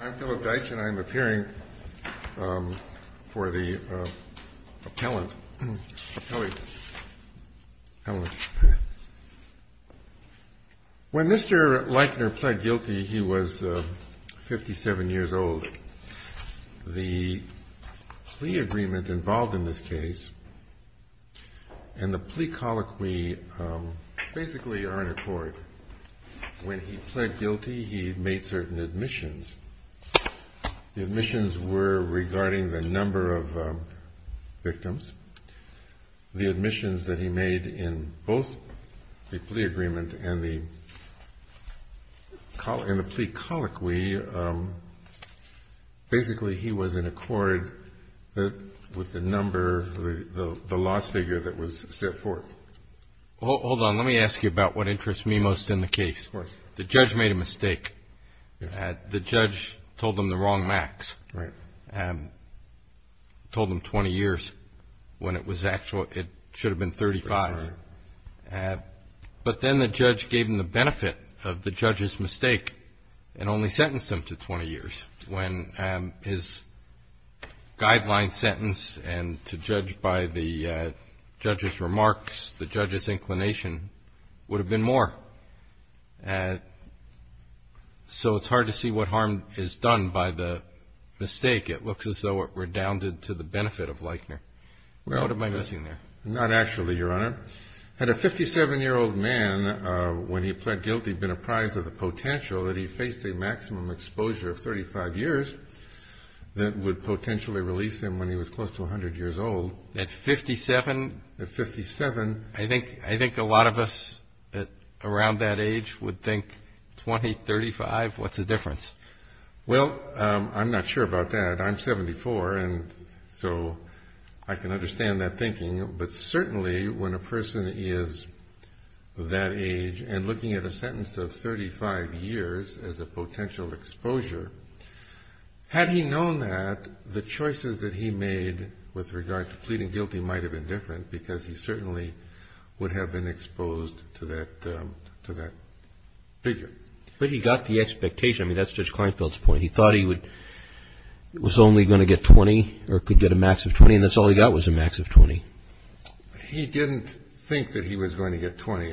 I'm Philip Dyche and I'm appearing for the appellate. When Mr. Leichner pled guilty, he was 57 years old. The plea agreement involved in this case and the plea colloquy basically are in accord. When he pled guilty, he made certain admissions. The admissions were regarding the number of victims. The admissions that he made in both the plea agreement and the plea colloquy, basically he was in accord with the number, the loss figure that was set forth. Hold on, let me ask you about what interests me most in the case. The judge made a mistake. The judge told him the wrong max, told him 20 years when it was actual, it should have been 35. But then the judge gave him the benefit of the judge's mistake and only sentenced him to 20 years. When his guideline sentence and to judge by the judge's remarks, the judge's inclination would have been more. So it's hard to see what harm is done by the mistake. It looks as though it redounded to the benefit of Leichner. What am I missing there? Not actually, Your Honor. Had a 57-year-old man, when he pled guilty, been apprised of the potential that he faced a maximum exposure of 35 years that would potentially release him when he was close to 100 years old. At 57? At 57. I think a lot of us around that age would think 20, 35, what's the difference? Well, I'm not sure about that. I'm 74 and so I can understand that thinking. But certainly when a person is that age and looking at a sentence of 35 years as a potential exposure, had he known that, the choices that he made with regard to pleading guilty might have been different because he certainly would have been exposed to that figure. But he got the expectation. I mean, that's Judge Kleinfeld's point. He thought he was only going to get 20 or could get a max of 20 and that's all he got was a max of 20. He didn't think that he was going to get 20.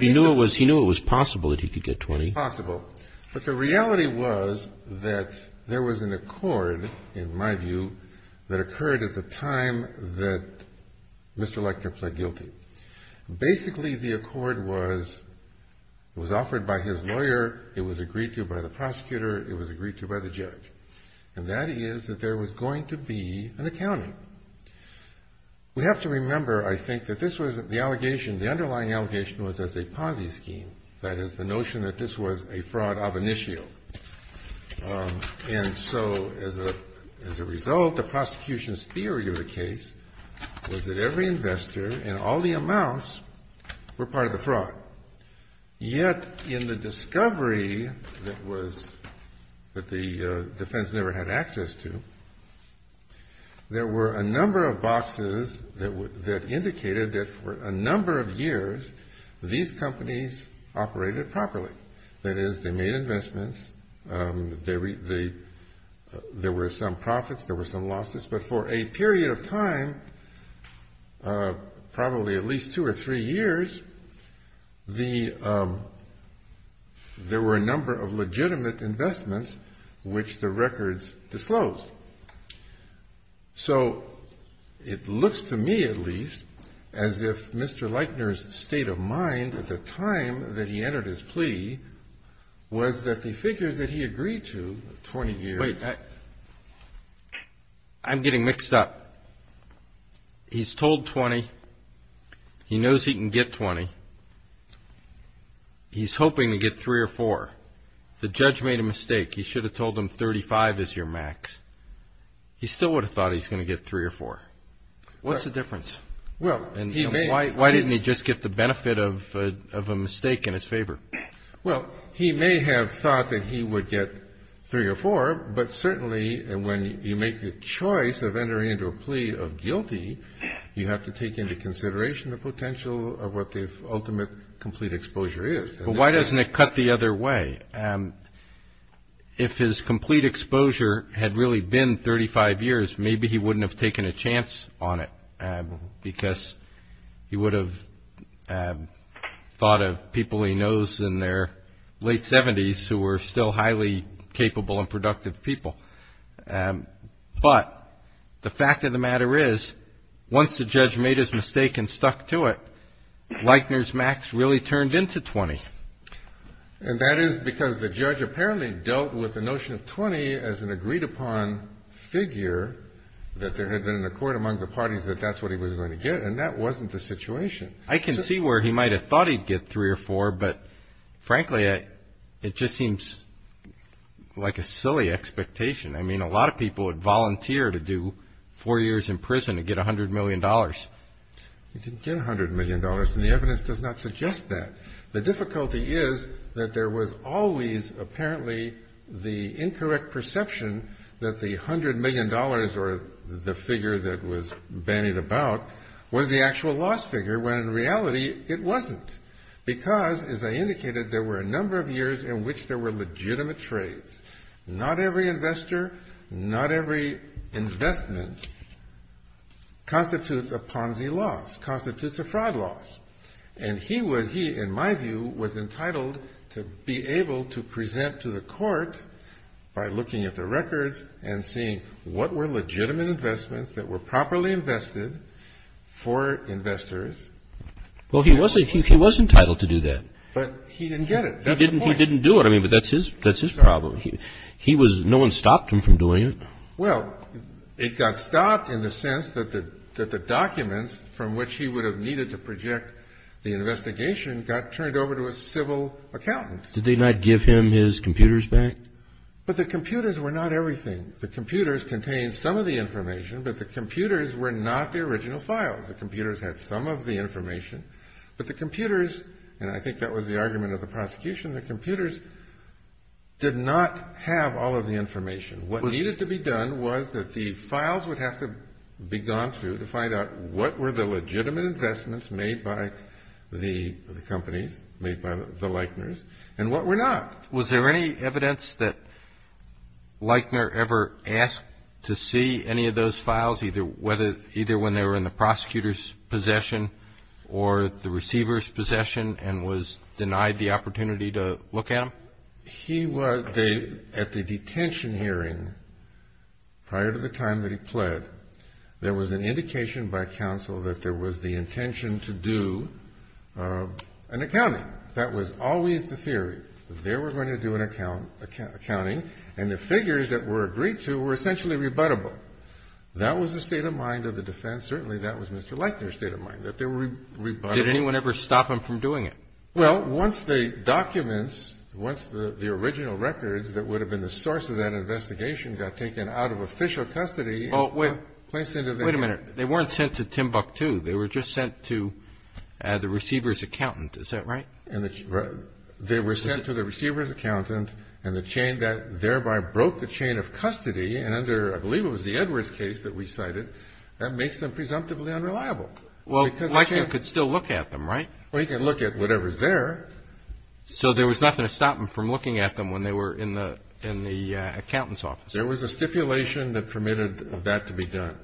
He knew it was possible that he could get 20. It was possible. But the reality was that there was an accord, in my view, that occurred at the time that Mr. Leichner pled guilty. Basically, the accord was offered by his lawyer. It was agreed to by the prosecutor. It was agreed to by the judge. And that is that there was going to be an accounting. We have to remember, I think, that this was the allegation. The underlying allegation was as a Ponzi scheme, that is, the notion that this was a fraud of initio. And so as a result, the prosecution's theory of the case was that every investor and all the amounts were part of the fraud. Yet in the discovery that the defense never had access to, there were a number of boxes that indicated that for a number of years these companies operated properly. That is, they made investments. There were some profits. There were some losses. But for a period of time, probably at least two or three years, there were a number of legitimate investments which the records disclosed. So it looks to me, at least, as if Mr. Leichner's state of mind at the time that he entered his plea was that he figured that he agreed to 20 years. Wait. I'm getting mixed up. He's told 20. He knows he can get 20. He's hoping to get three or four. The judge made a mistake. He should have told him 35 is your max. He still would have thought he's going to get three or four. What's the difference? Why didn't he just get the benefit of a mistake in his favor? Well, he may have thought that he would get three or four, but certainly when you make the choice of entering into a plea of guilty, you have to take into consideration the potential of what the ultimate complete exposure is. Well, why doesn't it cut the other way? If his complete exposure had really been 35 years, maybe he wouldn't have taken a chance on it because he would have thought of people he knows in their late 70s who were still highly capable and productive people. But the fact of the matter is, once the judge made his mistake and stuck to it, really turned into 20. And that is because the judge apparently dealt with the notion of 20 as an agreed-upon figure that there had been an accord among the parties that that's what he was going to get, and that wasn't the situation. I can see where he might have thought he'd get three or four, but, frankly, it just seems like a silly expectation. I mean, a lot of people would volunteer to do four years in prison to get $100 million. He didn't get $100 million, and the evidence does not suggest that. The difficulty is that there was always apparently the incorrect perception that the $100 million or the figure that was bandied about was the actual loss figure, when, in reality, it wasn't. Because, as I indicated, there were a number of years in which there were legitimate trades. Not every investor, not every investment constitutes a Ponzi loss, constitutes a fraud loss. And he, in my view, was entitled to be able to present to the court by looking at the records and seeing what were legitimate investments that were properly invested for investors. Well, he was entitled to do that. But he didn't get it. He didn't do it. I mean, but that's his problem. He was no one stopped him from doing it. Well, it got stopped in the sense that the documents from which he would have needed to project the investigation got turned over to a civil accountant. Did they not give him his computers back? But the computers were not everything. The computers contained some of the information, but the computers were not the original files. The computers had some of the information. But the computers, and I think that was the argument of the prosecution, the computers did not have all of the information. What needed to be done was that the files would have to be gone through to find out what were the legitimate investments made by the companies, made by the Leichners, and what were not. Was there any evidence that Leichner ever asked to see any of those files, either when they were in the prosecutor's possession or the receiver's possession and was denied the opportunity to look at them? He was at the detention hearing prior to the time that he pled. There was an indication by counsel that there was the intention to do an accounting. That was always the theory. They were going to do an accounting, and the figures that were agreed to were essentially rebuttable. That was the state of mind of the defense. Certainly that was Mr. Leichner's state of mind, that they were rebuttable. Did anyone ever stop him from doing it? Well, once the documents, once the original records that would have been the source of that investigation got taken out of official custody and placed into the- Wait a minute. They weren't sent to Timbuktu. They were just sent to the receiver's accountant. Is that right? They were sent to the receiver's accountant, and the chain that thereby broke the chain of custody, and under I believe it was the Edwards case that we cited, that makes them presumptively unreliable. Well, Leichner could still look at them, right? Well, he could look at whatever's there. So there was nothing to stop him from looking at them when they were in the accountant's office? There was a stipulation that permitted that to be done.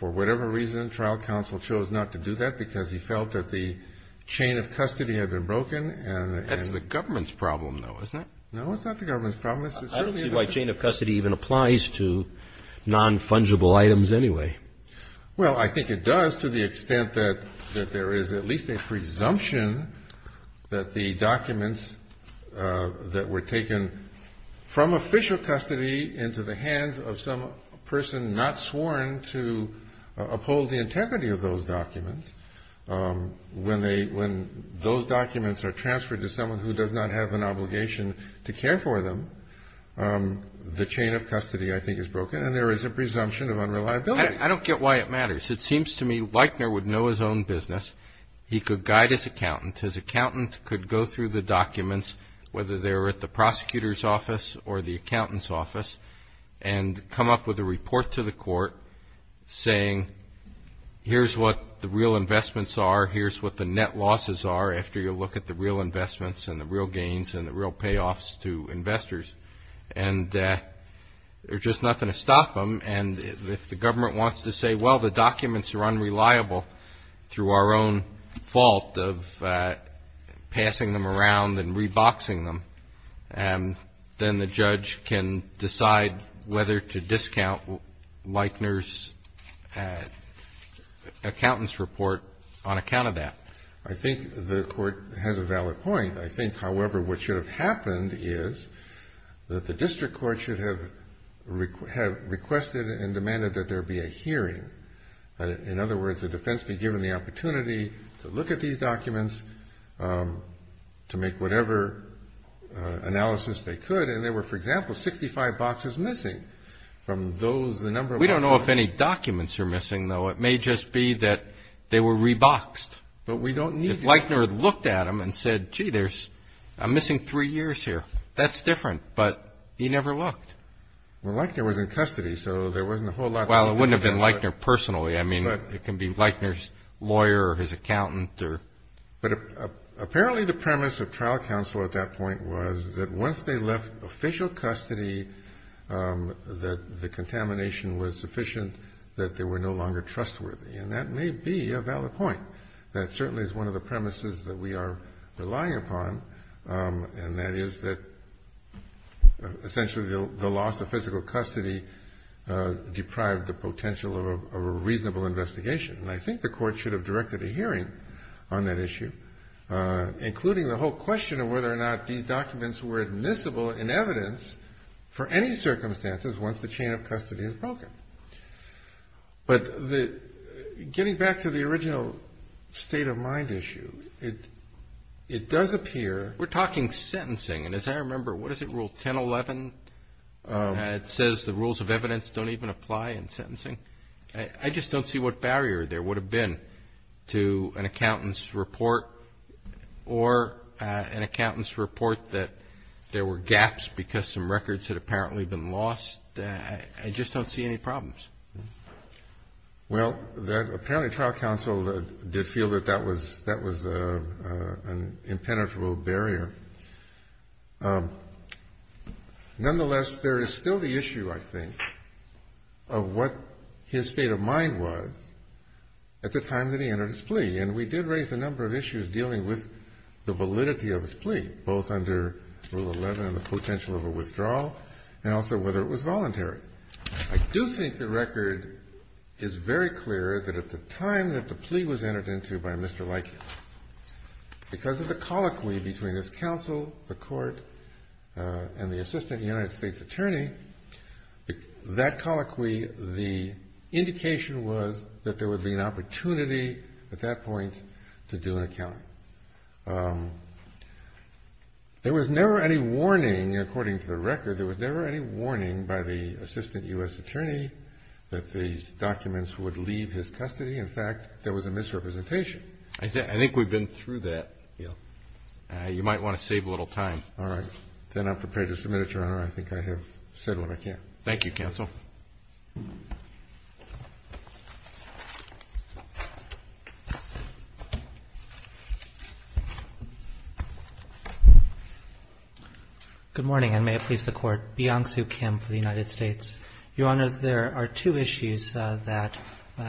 For whatever reason, trial counsel chose not to do that because he felt that the chain of custody had been broken. That's the government's problem, though, isn't it? No, it's not the government's problem. I don't see why chain of custody even applies to non-fungible items anyway. Well, I think it does to the extent that there is at least a presumption that the documents that were taken from official custody into the hands of some person not sworn to uphold the integrity of those documents, when they – when those documents are transferred to someone who does not have an obligation to care for them, the chain of custody I think is broken, and there is a presumption of unreliability. I don't get why it matters. It seems to me Leichner would know his own business. He could guide his accountant. His accountant could go through the documents, whether they were at the prosecutor's office or the accountant's office, and come up with a report to the court saying, here's what the real investments are, here's what the net losses are, after you look at the real investments and the real gains and the real payoffs to investors. And there's just nothing to stop them. And if the government wants to say, well, the documents are unreliable through our own fault of passing them around and re-boxing them, then the judge can decide whether to discount Leichner's accountant's report on account of that. I think the Court has a valid point. I think, however, what should have happened is that the district court should have requested and demanded that there be a hearing. In other words, the defense be given the opportunity to look at these documents, to make whatever analysis they could, and there were, for example, 65 boxes missing from those, the number of boxes. We don't know if any documents are missing, though. It may just be that they were re-boxed. But we don't need that. If Leichner had looked at them and said, gee, I'm missing three years here, that's different. But he never looked. Well, Leichner was in custody, so there wasn't a whole lot that could have been done. Well, it wouldn't have been Leichner personally. I mean, it can be Leichner's lawyer or his accountant. But apparently the premise of trial counsel at that point was that once they left official custody, that the contamination was sufficient, that they were no longer trustworthy. And that may be a valid point. That certainly is one of the premises that we are relying upon, and that is that essentially the loss of physical custody deprived the potential of a reasonable investigation. And I think the court should have directed a hearing on that issue, including the whole question of whether or not these documents were admissible in evidence for any circumstances once the chain of custody is broken. But getting back to the original state of mind issue, it does appear. We're talking sentencing. And as I remember, what is it, Rule 1011? It says the rules of evidence don't even apply in sentencing. I just don't see what barrier there would have been to an accountant's report or an accountant's report that there were gaps because some records had apparently been lost. I just don't see any problems. Well, apparently trial counsel did feel that that was an impenetrable barrier. Nonetheless, there is still the issue, I think, of what his state of mind was at the time that he entered his plea. And we did raise a number of issues dealing with the validity of his plea, both under Rule 11 and the potential of a withdrawal, and also whether it was voluntary. I do think the record is very clear that at the time that the plea was entered into by Mr. Leike, because of the colloquy between his counsel, the court, and the assistant United States attorney, that colloquy, the indication was that there would be an opportunity at that point to do an accounting. There was never any warning, according to the record, there was never any warning by the assistant U.S. attorney that these documents would leave his custody. In fact, there was a misrepresentation. I think we've been through that. You might want to save a little time. All right. Then I'm prepared to submit it, Your Honor. I think I have said what I can. Thank you, counsel. Thank you. Good morning, and may it please the Court. Byung Soo Kim for the United States. Your Honor, there are two issues that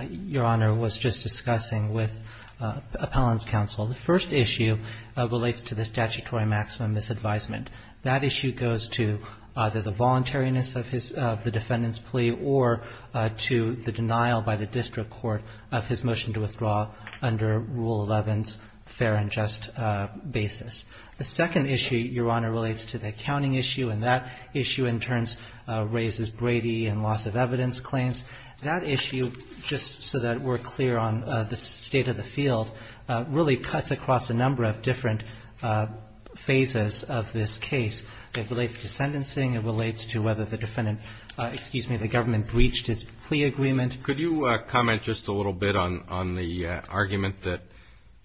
Your Honor was just discussing with Appellant's counsel. The first issue relates to the statutory maximum misadvisement. That issue goes to either the voluntariness of the defendant's plea or to the denial by the district court of his motion to withdraw under Rule 11's fair and just basis. The second issue, Your Honor, relates to the accounting issue, and that issue in turn raises Brady and loss of evidence claims. That issue, just so that we're clear on the state of the field, really cuts across a number of different phases of this case. It relates to sentencing. It relates to whether the defendant, excuse me, the government breached its plea agreement. Could you comment just a little bit on the argument that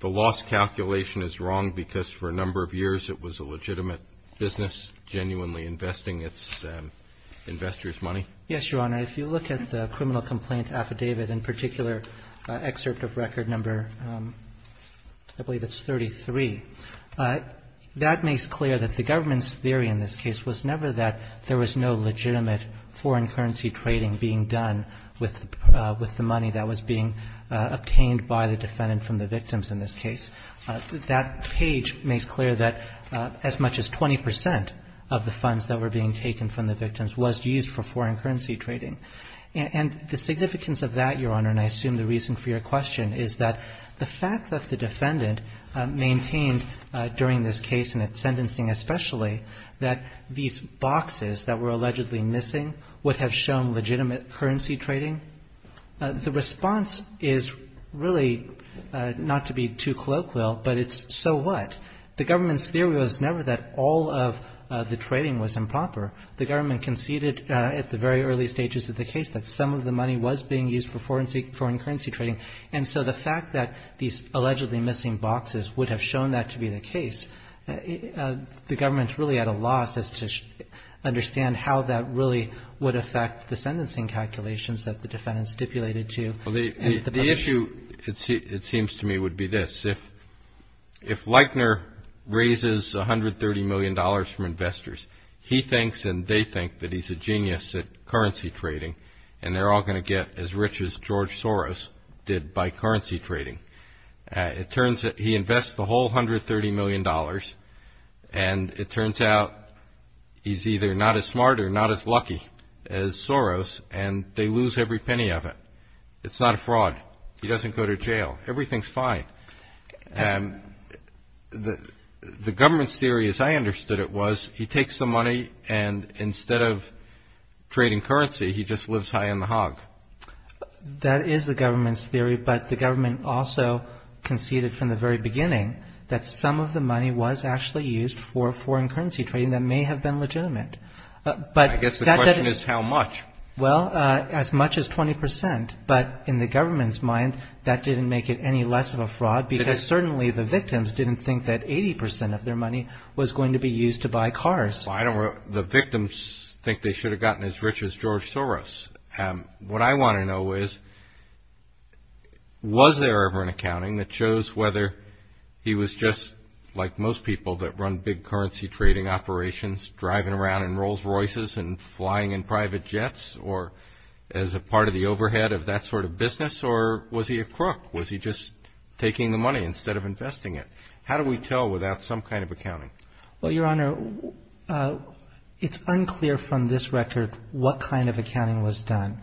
the loss calculation is wrong because for a number of years it was a legitimate business genuinely investing its investors' money? Yes, Your Honor. If you look at the criminal complaint affidavit, in particular, excerpt of record number I believe it's 33, that makes clear that the government's theory in this case was never that there was no legitimate foreign currency trading being done with the money that was being obtained by the defendant from the victims in this case. That page makes clear that as much as 20 percent of the funds that were being taken from the victims was used for foreign currency trading. And the significance of that, Your Honor, and I assume the reason for your question is that the fact that the defendant maintained during this case and its sentencing especially that these boxes that were allegedly missing would have shown legitimate currency trading, the response is really not to be too colloquial, but it's so what? The government's theory was never that all of the trading was improper. The government conceded at the very early stages of the case that some of the money was being used for foreign currency trading. And so the fact that these allegedly missing boxes would have shown that to be the case, the government's really at a loss as to understand how that really would affect the sentencing calculations that the defendant stipulated to. The issue, it seems to me, would be this. If Leichner raises $130 million from investors, he thinks and they think that he's a genius at currency trading and they're all going to get as rich as George Soros did by currency trading. It turns out he invests the whole $130 million and it turns out he's either not as smart or not as lucky as Soros and they lose every penny of it. It's not a fraud. He doesn't go to jail. Everything's fine. The government's theory, as I understood it, was he takes the money and instead of trading currency, he just lives high on the hog. That is the government's theory, but the government also conceded from the very beginning that some of the money was actually used for foreign currency trading that may have been legitimate. I guess the question is how much. Well, as much as 20 percent, but in the government's mind, that didn't make it any less of a fraud because certainly the victims didn't think that 80 percent of their money was going to be used to buy cars. The victims think they should have gotten as rich as George Soros. What I want to know is was there ever an accounting that shows whether he was just like most people that run big currency trading operations, driving around in Rolls Royces and flying in private jets, or as a part of the overhead of that sort of business, or was he a crook? Was he just taking the money instead of investing it? How do we tell without some kind of accounting? Well, Your Honor, it's unclear from this record what kind of accounting was done.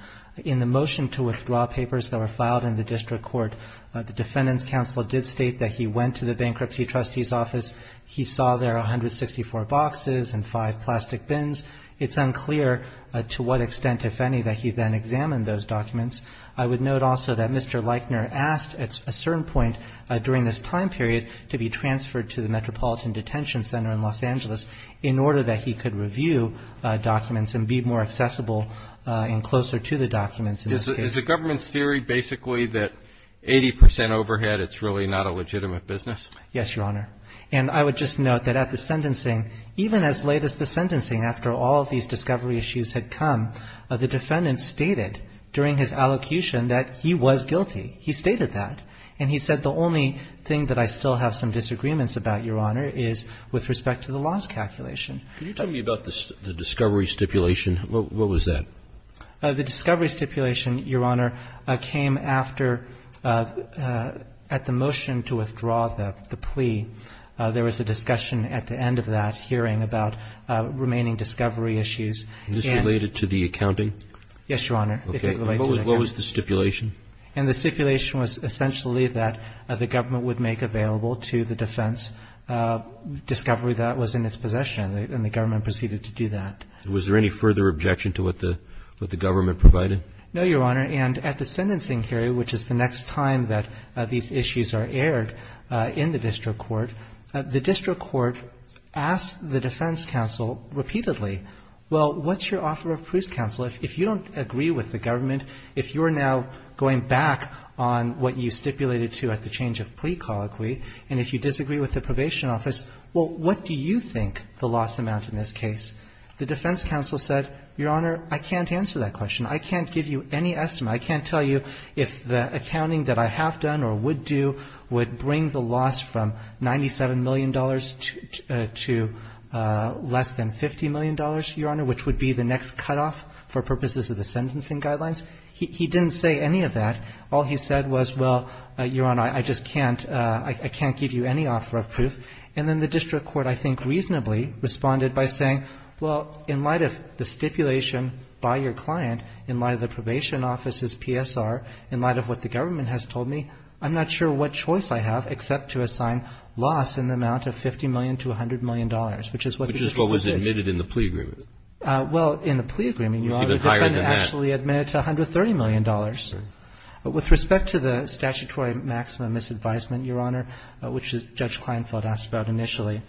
In the motion to withdraw papers that were filed in the district court, the defendant's counsel did state that he went to the bankruptcy trustee's office. He saw there 164 boxes and five plastic bins. It's unclear to what extent, if any, that he then examined those documents. I would note also that Mr. Leichner asked at a certain point during this time period to be transferred to the Metropolitan Detention Center in Los Angeles in order that he could review documents and be more accessible and closer to the documents in this case. Is the government's theory basically that 80 percent overhead, it's really not a legitimate business? Yes, Your Honor. And I would just note that at the sentencing, even as late as the sentencing, after all of these discovery issues had come, the defendant stated during his allocution that he was guilty. He stated that. And he said the only thing that I still have some disagreements about, Your Honor, is with respect to the loss calculation. Can you tell me about the discovery stipulation? What was that? The discovery stipulation, Your Honor, came after at the motion to withdraw the plea. There was a discussion at the end of that hearing about remaining discovery issues. And this related to the accounting? Yes, Your Honor. Okay. What was the stipulation? And the stipulation was essentially that the government would make available to the defense discovery that was in its possession. And the government proceeded to do that. Was there any further objection to what the government provided? No, Your Honor. And at the sentencing hearing, which is the next time that these issues are aired in the district court, the district court asked the defense counsel repeatedly, well, what's your offer of proof, counsel? If you don't agree with the government, if you're now going back on what you stipulated to at the change of plea colloquy, and if you disagree with the probation office, well, what do you think the loss amount in this case? The defense counsel said, Your Honor, I can't answer that question. I can't give you any estimate. I can't tell you if the accounting that I have done or would do would bring the loss from $97 million to less than $50 million, Your Honor, which would be the next cutoff for purposes of the sentencing guidelines. He didn't say any of that. All he said was, well, Your Honor, I just can't, I can't give you any offer of proof. And then the district court, I think, reasonably responded by saying, well, in light of the stipulation by your client, in light of the probation office's PSR, in light of what the government has told me, I'm not sure what choice I have except to assign loss in the amount of $50 million to $100 million, which is what the district court said. Which is what was admitted in the plea agreement. Well, in the plea agreement, Your Honor, the defendant actually admitted to $130 million. With respect to the statutory maximum misadvisement, Your Honor, which Judge Kleinfeld asked about initially,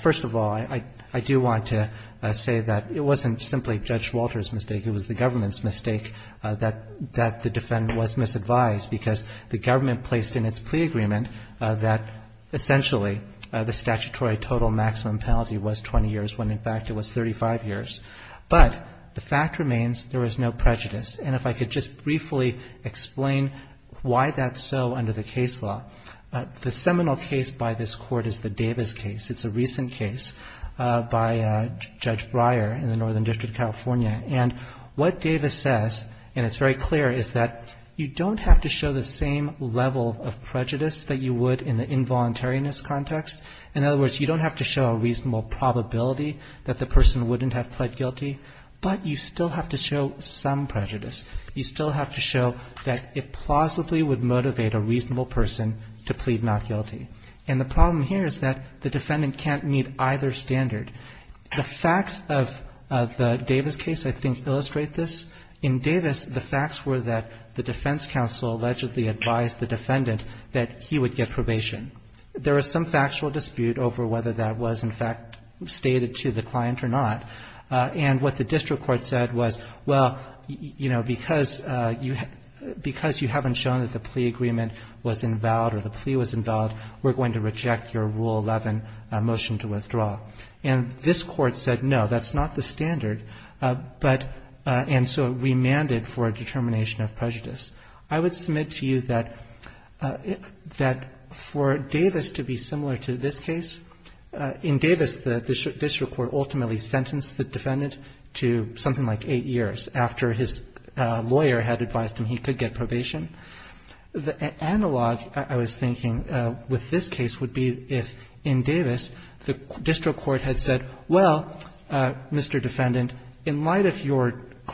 first of all, I do want to say that it wasn't simply Judge Walter's mistake. It was the government's mistake that the defendant was misadvised, because the government placed in its plea agreement that essentially the statutory total maximum penalty was 20 years, when in fact it was 35 years. But the fact remains there was no prejudice. And if I could just briefly explain why that's so under the case law. The seminal case by this Court is the Davis case. It's a recent case by Judge Breyer in the Northern District of California. And what Davis says, and it's very clear, is that you don't have to show the same level of prejudice that you would in the involuntariness context. In other words, you don't have to show a reasonable probability that the person wouldn't have pled guilty, but you still have to show some prejudice. You still have to show that it plausibly would motivate a reasonable person to plead not guilty. And the problem here is that the defendant can't meet either standard. The facts of the Davis case, I think, illustrate this. In Davis, the facts were that the defense counsel allegedly advised the defendant that he would get probation. There was some factual dispute over whether that was in fact stated to the client or not. And what the district court said was, well, you know, because you haven't shown that the plea agreement was invalid or the plea was invalid, we're going to reject your Rule 11 motion to withdraw. And this Court said, no, that's not the standard. And so it remanded for a determination of prejudice. I would submit to you that for Davis to be similar to this case, in Davis, the district court ultimately sentenced the defendant to something like eight years after his lawyer had advised him he could get probation. The analog, I was thinking, with this case would be if in Davis the district court had said, well, Mr. Defendant, in light of your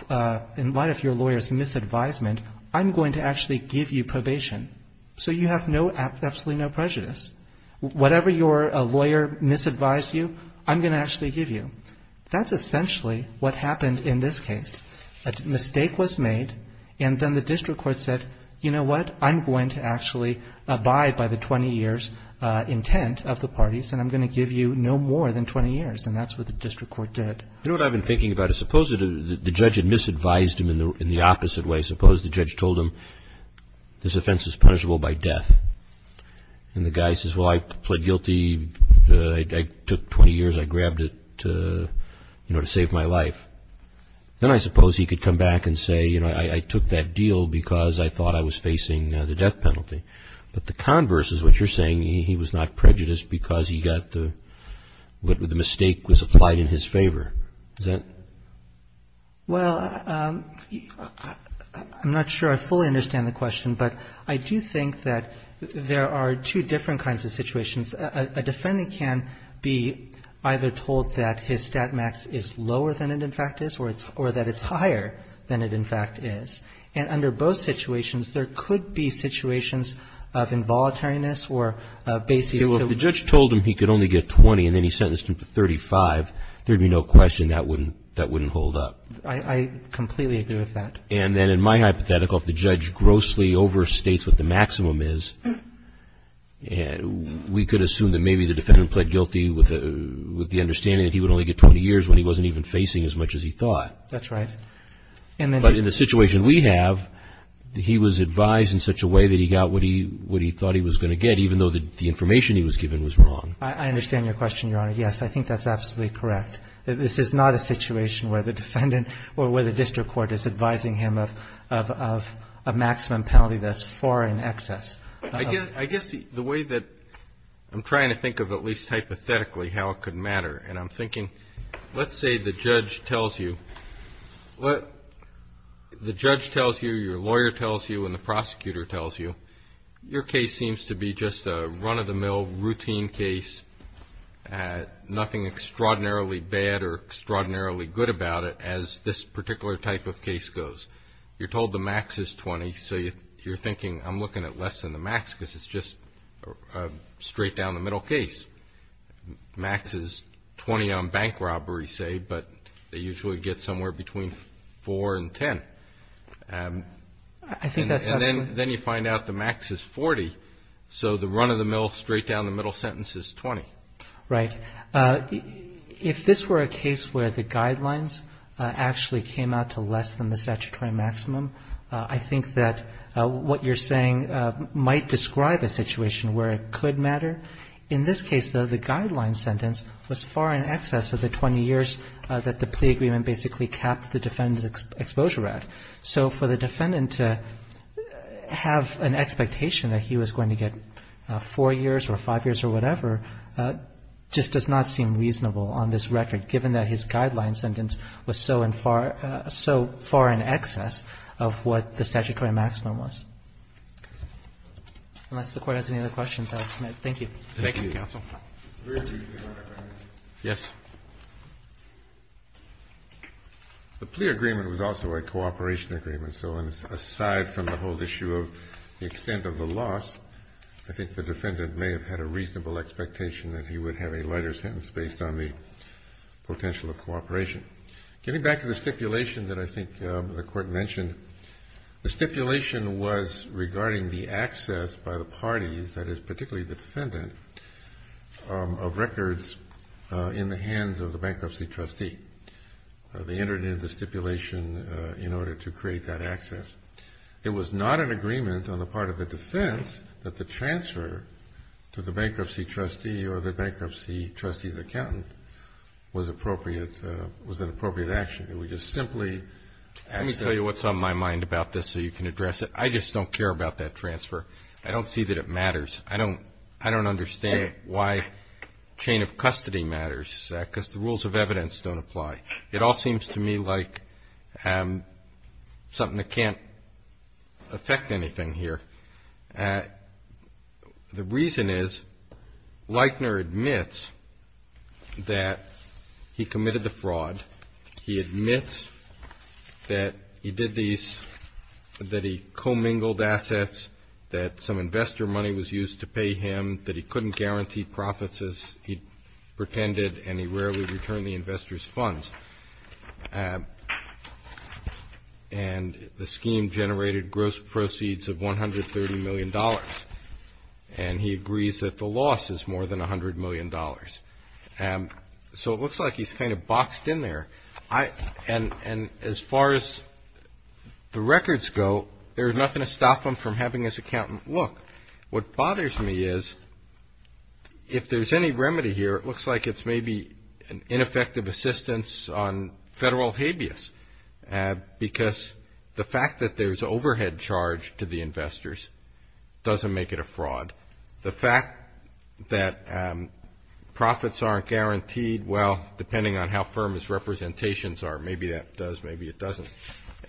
lawyer's misadvisement, I'm going to actually give you probation. So you have absolutely no prejudice. Whatever your lawyer misadvised you, I'm going to actually give you. That's essentially what happened in this case. A mistake was made, and then the district court said, you know what, I'm going to actually abide by the 20 years intent of the parties, and I'm going to give you no more than 20 years. And that's what the district court did. You know what I've been thinking about? Suppose the judge had misadvised him in the opposite way. Suppose the judge told him this offense is punishable by death. And the guy says, well, I pled guilty, I took 20 years, I grabbed it to, you know, to save my life. Then I suppose he could come back and say, you know, I took that deal because I thought I was facing the death penalty. But the converse is what you're saying. He was not prejudiced because he got the mistake was applied in his favor. Is that? Well, I'm not sure I fully understand the question, but I do think that there are two different kinds of situations. A defendant can be either told that his stat max is lower than it, in fact, is, or that it's higher than it, in fact, is. And under both situations, there could be situations of involuntariness or a basis to which the judge told him he could only get 20 and then he sentenced him to 35. There would be no question that wouldn't hold up. I completely agree with that. And then in my hypothetical, if the judge grossly overstates what the maximum is, we could assume that maybe the defendant pled guilty with the understanding that he would only get 20 years when he wasn't even facing as much as he thought. That's right. But in the situation we have, he was advised in such a way that he got what he thought he was going to get, even though the information he was given was wrong. I understand your question, Your Honor. Yes, I think that's absolutely correct. This is not a situation where the defendant or where the district court is advising him of a maximum penalty that's far in excess. I guess the way that I'm trying to think of at least hypothetically how it could matter, and I'm thinking, let's say the judge tells you, the judge tells you, your lawyer tells you, and the prosecutor tells you, your case seems to be just a run-of-the-mill routine case, nothing extraordinarily bad or extraordinarily good about it as this particular type of case goes. You're told the max is 20, so you're thinking, I'm looking at less than the max because it's just straight down the middle case. Max is 20 on bank robbery, say, but they usually get somewhere between 4 and 10. I think that's absolutely correct. Then you find out the max is 40, so the run-of-the-mill straight down the middle sentence is 20. Right. If this were a case where the guidelines actually came out to less than the statutory maximum, I think that what you're saying might describe a situation where it could matter. In this case, though, the guideline sentence was far in excess of the 20 years that the plea agreement basically capped the defendant's exposure at. So for the defendant to have an expectation that he was going to get 4 years or 5 years or whatever just does not seem reasonable on this record, given that his guideline sentence was so far in excess of what the statutory maximum was. Unless the Court has any other questions, I'll submit. Thank you. Thank you, counsel. Yes. The plea agreement was also a cooperation agreement, so aside from the whole issue of the extent of the loss, I think the defendant may have had a reasonable expectation that he would have a lighter sentence based on the potential of cooperation. Getting back to the stipulation that I think the Court mentioned, the stipulation was regarding the access by the parties, that is, particularly the defendant, of the hands of the bankruptcy trustee. They entered in the stipulation in order to create that access. It was not an agreement on the part of the defense that the transfer to the bankruptcy trustee or the bankruptcy trustee's accountant was an appropriate action. It was just simply access. Let me tell you what's on my mind about this so you can address it. I just don't care about that transfer. I don't see that it matters. I don't understand why chain of custody matters, because the rules of evidence don't apply. It all seems to me like something that can't affect anything here. The reason is, Leitner admits that he committed the fraud. He admits that he did these, that he commingled assets, that some investor money was used to pay him, that he couldn't guarantee profits as he pretended, and he rarely returned the investor's funds. And the scheme generated gross proceeds of $130 million. And he agrees that the loss is more than $100 million. So it looks like he's kind of boxed in there. And as far as the records go, there's nothing to stop him from having his accountant look. What bothers me is, if there's any remedy here, it looks like it's maybe an ineffective assistance on federal habeas, because the fact that there's overhead charge to the investors doesn't make it a fraud. The fact that profits aren't guaranteed, well, depending on how firm his representations are, maybe that does, maybe it doesn't.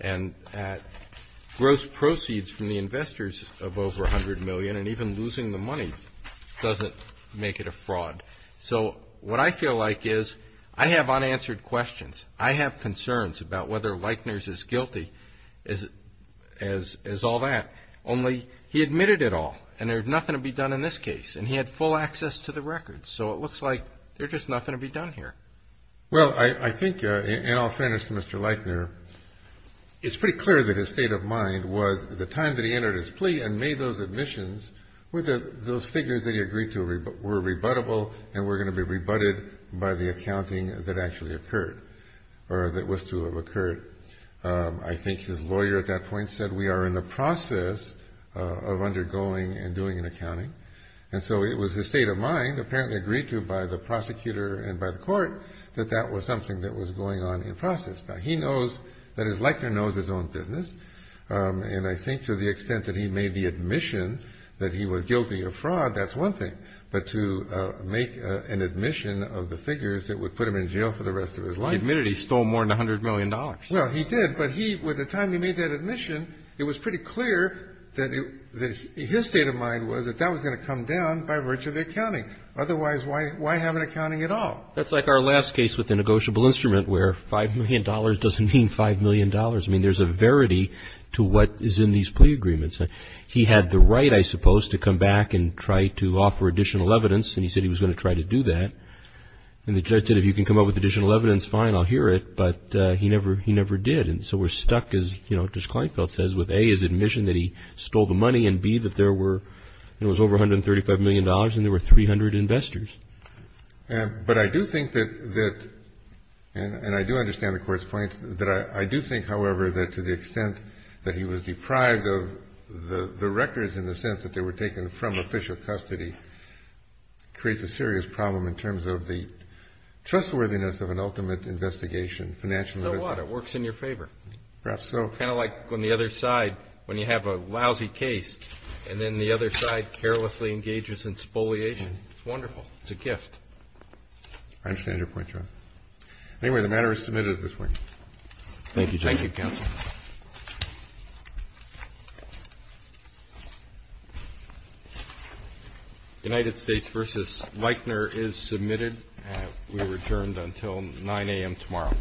And gross proceeds from the investors of over $100 million, and even losing the money doesn't make it a fraud. So what I feel like is I have unanswered questions. I have concerns about whether Leitner is as guilty as all that, only he admitted it all, and there's nothing to be done in this case, and he had full access to the records. So it looks like there's just nothing to be done here. Well, I think, in all fairness to Mr. Leitner, it's pretty clear that his state of mind was the time that he entered his plea and made those admissions were those figures that he agreed to were rebuttable and were going to be rebutted by the accounting that actually occurred, or that was to have occurred. I think his lawyer at that point said, we are in the process of undergoing and doing an accounting. And so it was his state of mind, apparently agreed to by the prosecutor and by the court, that that was something that was going on in process. Now, he knows that his Leitner knows his own business, and I think to the extent that he made the admission that he was guilty of fraud, that's one thing, but to make an admission of the figures that would put him in jail for the rest of his life. He admitted he stole more than $100 million. Well, he did, but he, by the time he made that admission, it was pretty clear that his state of mind was that that was going to come down by virtue of accounting. Otherwise, why have an accounting at all? That's like our last case with the negotiable instrument where $5 million doesn't mean $5 million. I mean, there's a verity to what is in these plea agreements. He had the right, I suppose, to come back and try to offer additional evidence, and he said he was going to try to do that. And the judge said, if you can come up with additional evidence, fine, I'll hear it, but he never did. And so we're stuck, as, you know, Judge Kleinfeld says, with A, his admission that he stole the money, and B, that there were, you know, it was over $135 million and there were 300 investors. But I do think that, and I do understand the Court's point, that I do think, however, that to the extent that he was deprived of the records in the sense that they were taken from official custody creates a serious problem in terms of the trustworthiness of an ultimate investigation. So what? It works in your favor. Kind of like on the other side when you have a lousy case and then the other side carelessly engages in spoliation. It's wonderful. It's a gift. I understand your point, Your Honor. Anyway, the matter is submitted at this point. Thank you, Justice. Thank you, counsel. United States v. Weichner is submitted. We are adjourned until 9 a.m. tomorrow. Thank you.